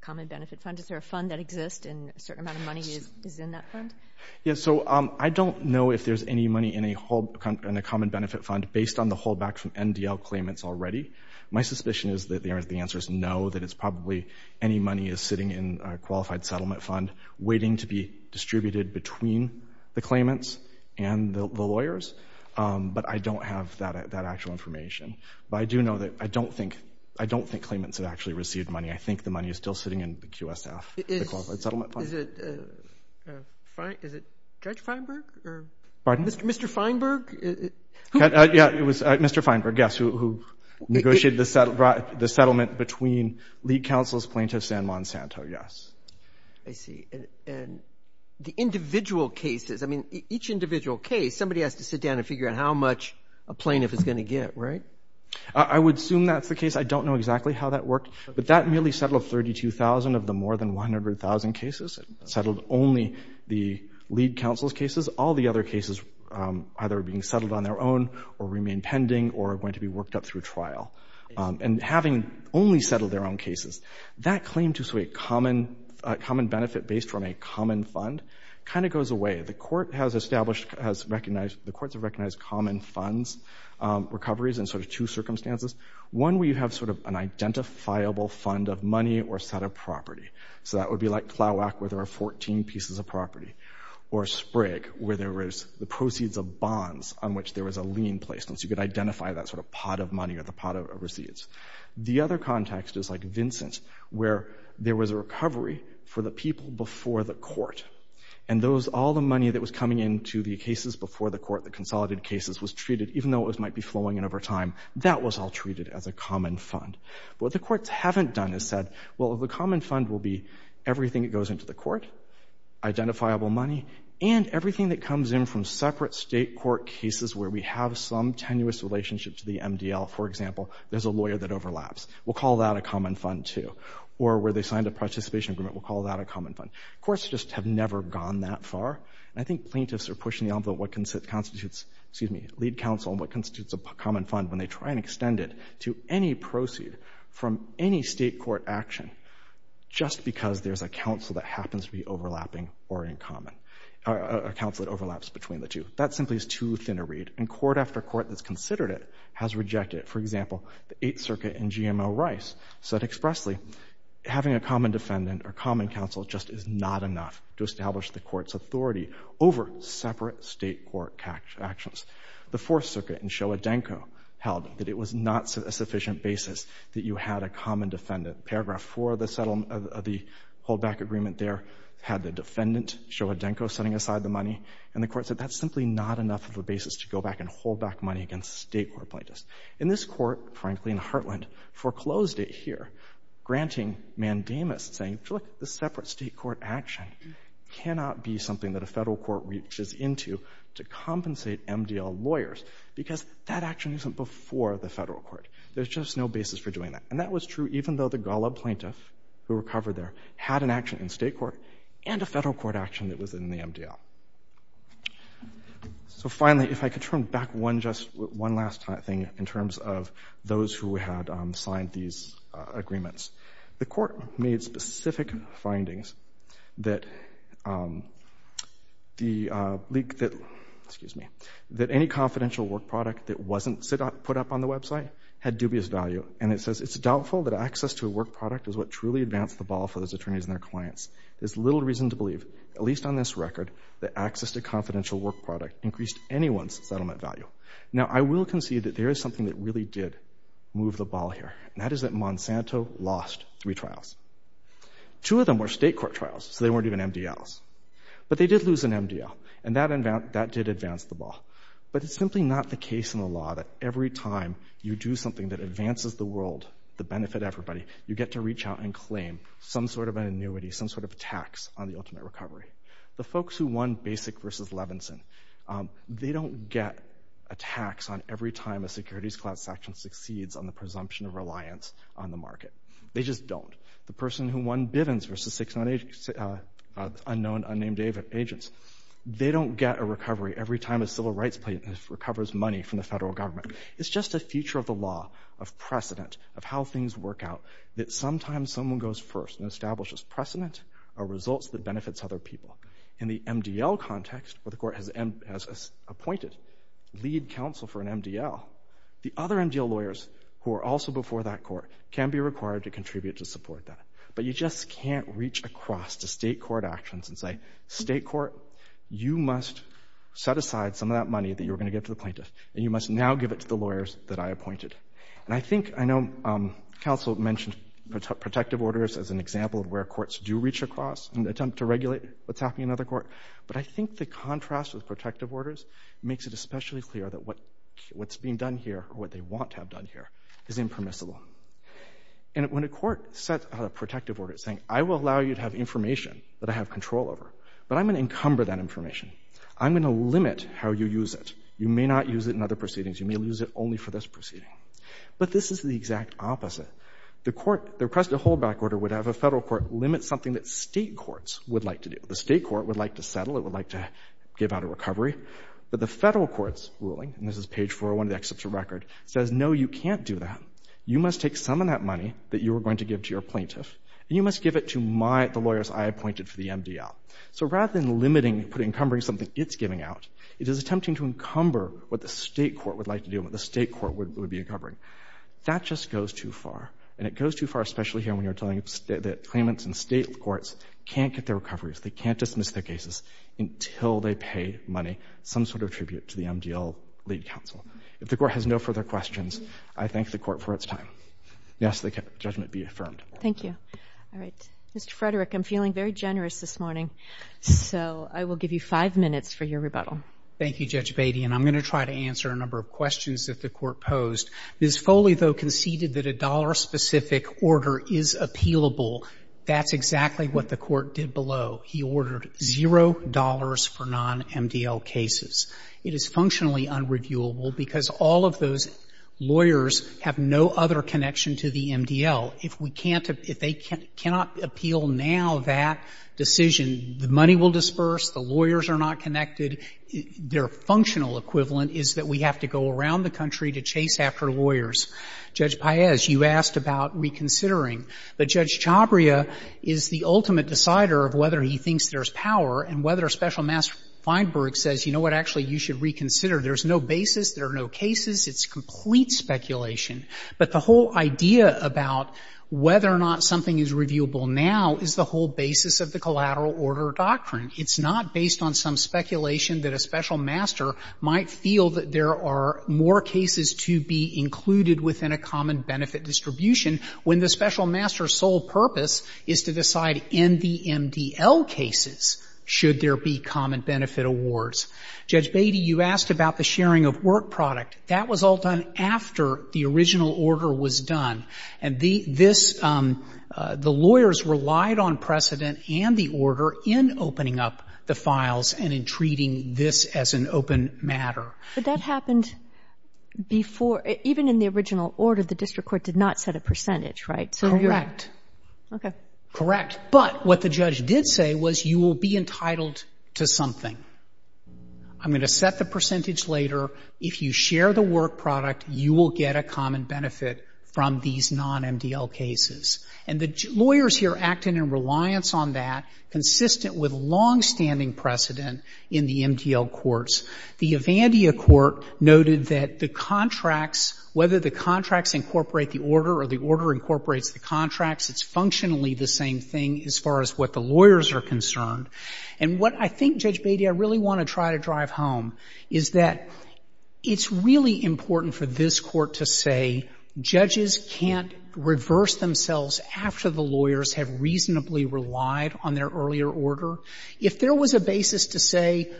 Common Benefit Fund? Is there a fund that exists, and a certain amount of money is in that fund? Yeah, so I don't know if there's any money in a Common Benefit Fund based on the holdback from NDL claimants already. My suspicion is that the answer is no, that it's probably any money is sitting in a Qualified Settlement Fund waiting to be distributed between the claimants and the lawyers. But I don't have that actual information. But I do know that I don't think... I don't think claimants have actually received money. I think the money is still sitting in the QSF, the Qualified Settlement Fund. Is it Judge Feinberg? Pardon? Mr. Feinberg? Yeah, it was Mr. Feinberg, yes, who negotiated the settlement between League Council's plaintiffs and Monsanto, yes. I see. And the individual cases, I mean, each individual case, somebody has to sit down and figure out how much a plaintiff is going to get, right? I would assume that's the case. I don't know exactly how that worked. But that merely settled 32,000 of the more than 100,000 cases. It settled only the League Council's cases. All the other cases either are being settled on their own or remain pending or are going to be worked up through trial. And having only settled their own cases, that claim to a common benefit based on a common fund kind of goes away. The court has established... The courts have recognized common funds, recoveries in sort of two circumstances. One where you have sort of an identifiable fund of money or set of property. So that would be like Clowack, where there are 14 pieces of property, or Sprigg, where there is the proceeds of bonds on which there was a lien placed. So you could identify that sort of pot of money or the pot of receipts. The other context is like Vincent, where there was a recovery for the people before the court. And all the money that was coming into the cases before the court, the consolidated cases, was treated, even though it might be flowing in over time, that was all treated as a common fund. What the courts haven't done is said, well, the common fund will be everything that goes into the court, identifiable money, and everything that comes in from separate state court cases where we have some tenuous relationship to the MDL. For example, there's a lawyer that overlaps. We'll call that a common fund too. Or where they signed a participation agreement, we'll call that a common fund. Courts just have never gone that far. And I think plaintiffs are pushing the envelope what constitutes, excuse me, lead counsel and what constitutes a common fund when they try and extend it to any proceed from any state court action just because there's a counsel that happens to be overlapping or in common, a counsel that overlaps between the two. That simply is too thin a read. And court after court that's considered it has rejected it. For example, the Eighth Circuit in GMO Rice said expressly, having a common defendant or common counsel just is not enough to establish the court's authority over separate state court actions. The Fourth Circuit in Shoah-Denko held that it was not a sufficient basis that you had a common defendant. Paragraph 4 of the settlement of the holdback agreement there had the defendant, Shoah-Denko, setting aside the money, and the court said that's simply not enough of a basis to go back and hold back money against state court plaintiffs. And this court, frankly, in Hartland foreclosed it here, granting mandamus saying, look, the separate state court action cannot be something that a federal court reaches into to compensate MDL lawyers because that action isn't before the federal court. There's just no basis for doing that. And that was true even though the Golub plaintiff who recovered there had an action in state court and a federal court action that was in the MDL. So finally, if I could turn back one last thing in terms of those who had signed these agreements. The court made specific findings that any confidential work product that wasn't put up on the website had dubious value, and it says it's doubtful that access to a work product is what truly advanced the ball for those attorneys and their clients. There's little reason to believe, at least on this record, that access to confidential work product increased anyone's settlement value. Now, I will concede that there is something that really did move the ball here, and that is that Monsanto lost three trials. Two of them were state court trials, so they weren't even MDLs. But they did lose an MDL, and that did advance the ball. that every time you do something that advances the world, the benefit is some sort of annuity, some sort of tax on the ultimate recovery. The folks who won Basic versus Levinson, they don't get a tax on every time a securities class action succeeds on the presumption of reliance on the market. They just don't. The person who won Bivens versus six unknown unnamed agents, they don't get a recovery every time a civil rights plaintiff recovers money from the federal government. It's just a feature of the law, of precedent, of how things work out, that sometimes someone goes first and establishes precedent or results that benefits other people. In the MDL context, where the court has appointed lead counsel for an MDL, the other MDL lawyers who are also before that court can be required to contribute to support that. But you just can't reach across to state court actions and say, state court, you must set aside some of that money that you were going to give to the plaintiff, and you must now give it to the lawyers that I appointed. And I think, I know counsel mentioned protective orders as an example of where courts do reach across and attempt to regulate what's happening in other courts, but I think the contrast with protective orders makes it especially clear that what's being done here or what they want to have done here is impermissible. And when a court sets a protective order saying I will allow you to have information that I have control over, but I'm going to encumber that information. I'm going to limit how you use it. You may not use it in other proceedings. But this is the exact opposite. The court, the request to hold back order would have a federal court limit something that state courts would like to do. The state court would like to settle. It would like to give out a recovery. But the federal court's ruling, and this is page 401 of the Exceptional Record, says no, you can't do that. You must take some of that money that you were going to give to your plaintiff, and you must give it to my, the lawyers I appointed for the MDL. So rather than limiting putting, encumbering something it's giving out, it is attempting to encumber what the state court would be recovering. That just goes too far. And it goes too far especially here when you're telling that claimants in state courts can't get their recoveries, they can't dismiss their cases until they pay money, some sort of tribute to the MDL lead counsel. If the court has no further questions, I thank the court for its time. Yes, the judgment be affirmed. Thank you. All right. Mr. Frederick, I'm feeling very generous this morning, so I will give you five minutes for your rebuttal. Thank you, Judge Beatty. And I'm going to try to answer a number of questions that the court posed. Ms. Foley, though, conceded that a dollar specific order is appealable. That's exactly what the court did below. He ordered zero dollars for non-MDL cases. It is functionally unreviewable because all of those lawyers have no other connection to the MDL. If we can't, if they cannot appeal now that decision, the money will disperse, the lawyers are not connected, their functional equivalent is that we have to go around the country to chase after lawyers. Judge Paez, you asked about reconsidering. But Judge Chabria is the ultimate decider of whether he thinks there's power and whether Special Master Feinberg says, you know what, actually, you should reconsider. There's no basis, there are no cases, it's complete speculation. But the whole idea about whether or not something is reviewable now is the whole basis of the collateral order doctrine. It's not based on some speculation that a Special Master might feel that there are more cases to be included within a common benefit distribution when the Special Master's sole purpose is to decide in the MDL cases should there be common benefit awards. Judge Beatty, you asked about the sharing of work product. That was all done after the original order was done. And this, the lawyers relied on precedent and the order in opening up the files and in treating this as an open matter. But that happened before even in the original order, the district court did not set a percentage, right? Correct. But what the judge did say was you will be entitled to something. I'm going to set the percentage later. If you share the work product, you will get a common benefit from these non-MDL cases. And the judge relied on that consistent with long-standing precedent in the MDL courts. The Evandia court noted that the contracts, whether the contracts incorporate the order or the order incorporates the contracts, it's functionally the same thing as far as what the lawyers are concerned. And what I think, Judge Beatty, I really want to try to drive home is that it's really important for this court to say judges can't reverse themselves after the lawyers have reasonably relied on their earlier order. If there was a basis to say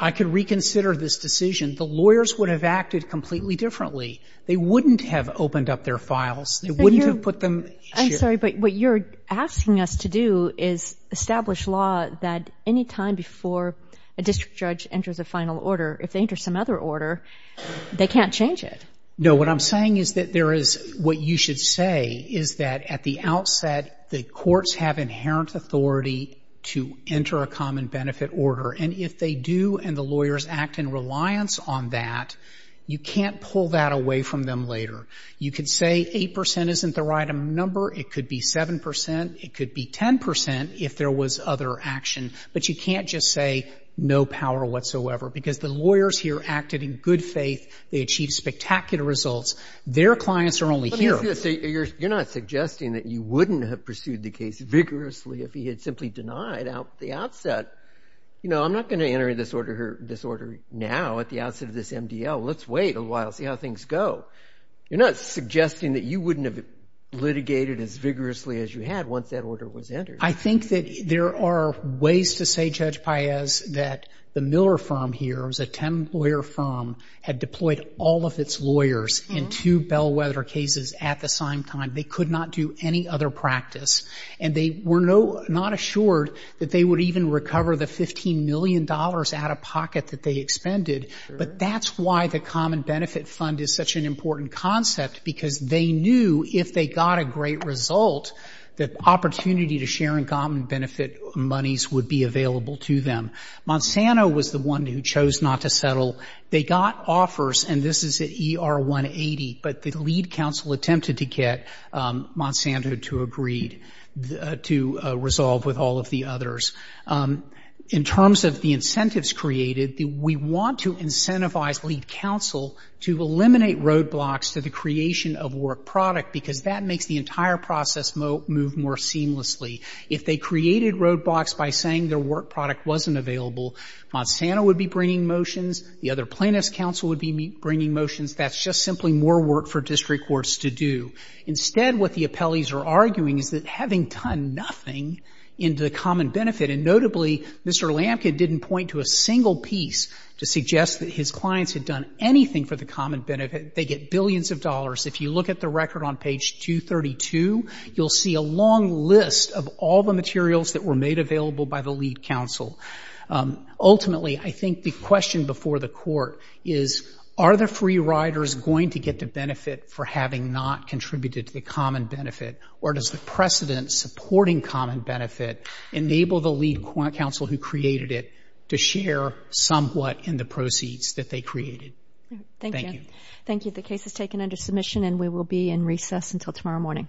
I could reconsider this decision, the lawyers would have acted completely differently. They wouldn't have opened up their files. They wouldn't have put them... I'm sorry, but what you're asking us to do is establish law that any time before a district judge enters a final order, if they enter some other order, they can't change it. No, what I'm saying is that there is what you should say is that at the outset, the courts have inherent authority to enter a common benefit order. And if they do and the lawyers act in reliance on that, you can't pull that away from them later. You can say 8 percent isn't the right number. It could be 7 percent. It could be 10 percent if there was other action. But you can't just say no power whatsoever. Because the lawyers here acted in good faith. They achieved spectacular results. Their clients are only heroes. You're not suggesting that you wouldn't have pursued the case vigorously if he had simply denied at the outset, you know, I'm not going to enter this order now at the outset of this MDL. Let's wait a while, see how things go. You're not suggesting that you wouldn't have litigated as vigorously as you had once that order was entered. I think that there are ways to say, Judge Paez, that the Miller firm here, it was a 10-employer firm, had deployed all of its lawyers in two bellwether cases at the same time. They could not do any other practice. And they were not assured that they would even recover the $15 million out of pocket that they expended. But that's why the Common Benefit Fund is such an important concept because they knew if they got a great result, that opportunity to share in Common Benefit monies would be available to them. Monsanto was the one who got offers, and this is at ER 180, but the lead counsel attempted to get Monsanto to agree to resolve with all of the others. In terms of the incentives created, we want to incentivize lead counsel to eliminate roadblocks to the creation of work product because that makes the entire process move more seamlessly. If they created roadblocks by saying their work product wasn't available, Monsanto would be bringing motions. The other plaintiffs counsel would be bringing motions. That's just simply more work for district courts to do. Instead, what the appellees are arguing is that having done nothing in the Common Benefit, and notably, Mr. Lamkin didn't point to a single piece to suggest that his clients had done anything for the Common Benefit, they get billions of dollars. If you look at the record on page 232, you'll see a long list of all the materials that were made available by the lead counsel. Ultimately, I think the question before the court is are the free riders going to get the benefit for having not contributed to the Common Benefit, or does the precedent supporting Common Benefit enable the lead counsel who created it to share somewhat in the proceeds that they created? Thank you. Thank you. The case is taken under submission and we will be in recess until tomorrow morning. All rise. Thank you.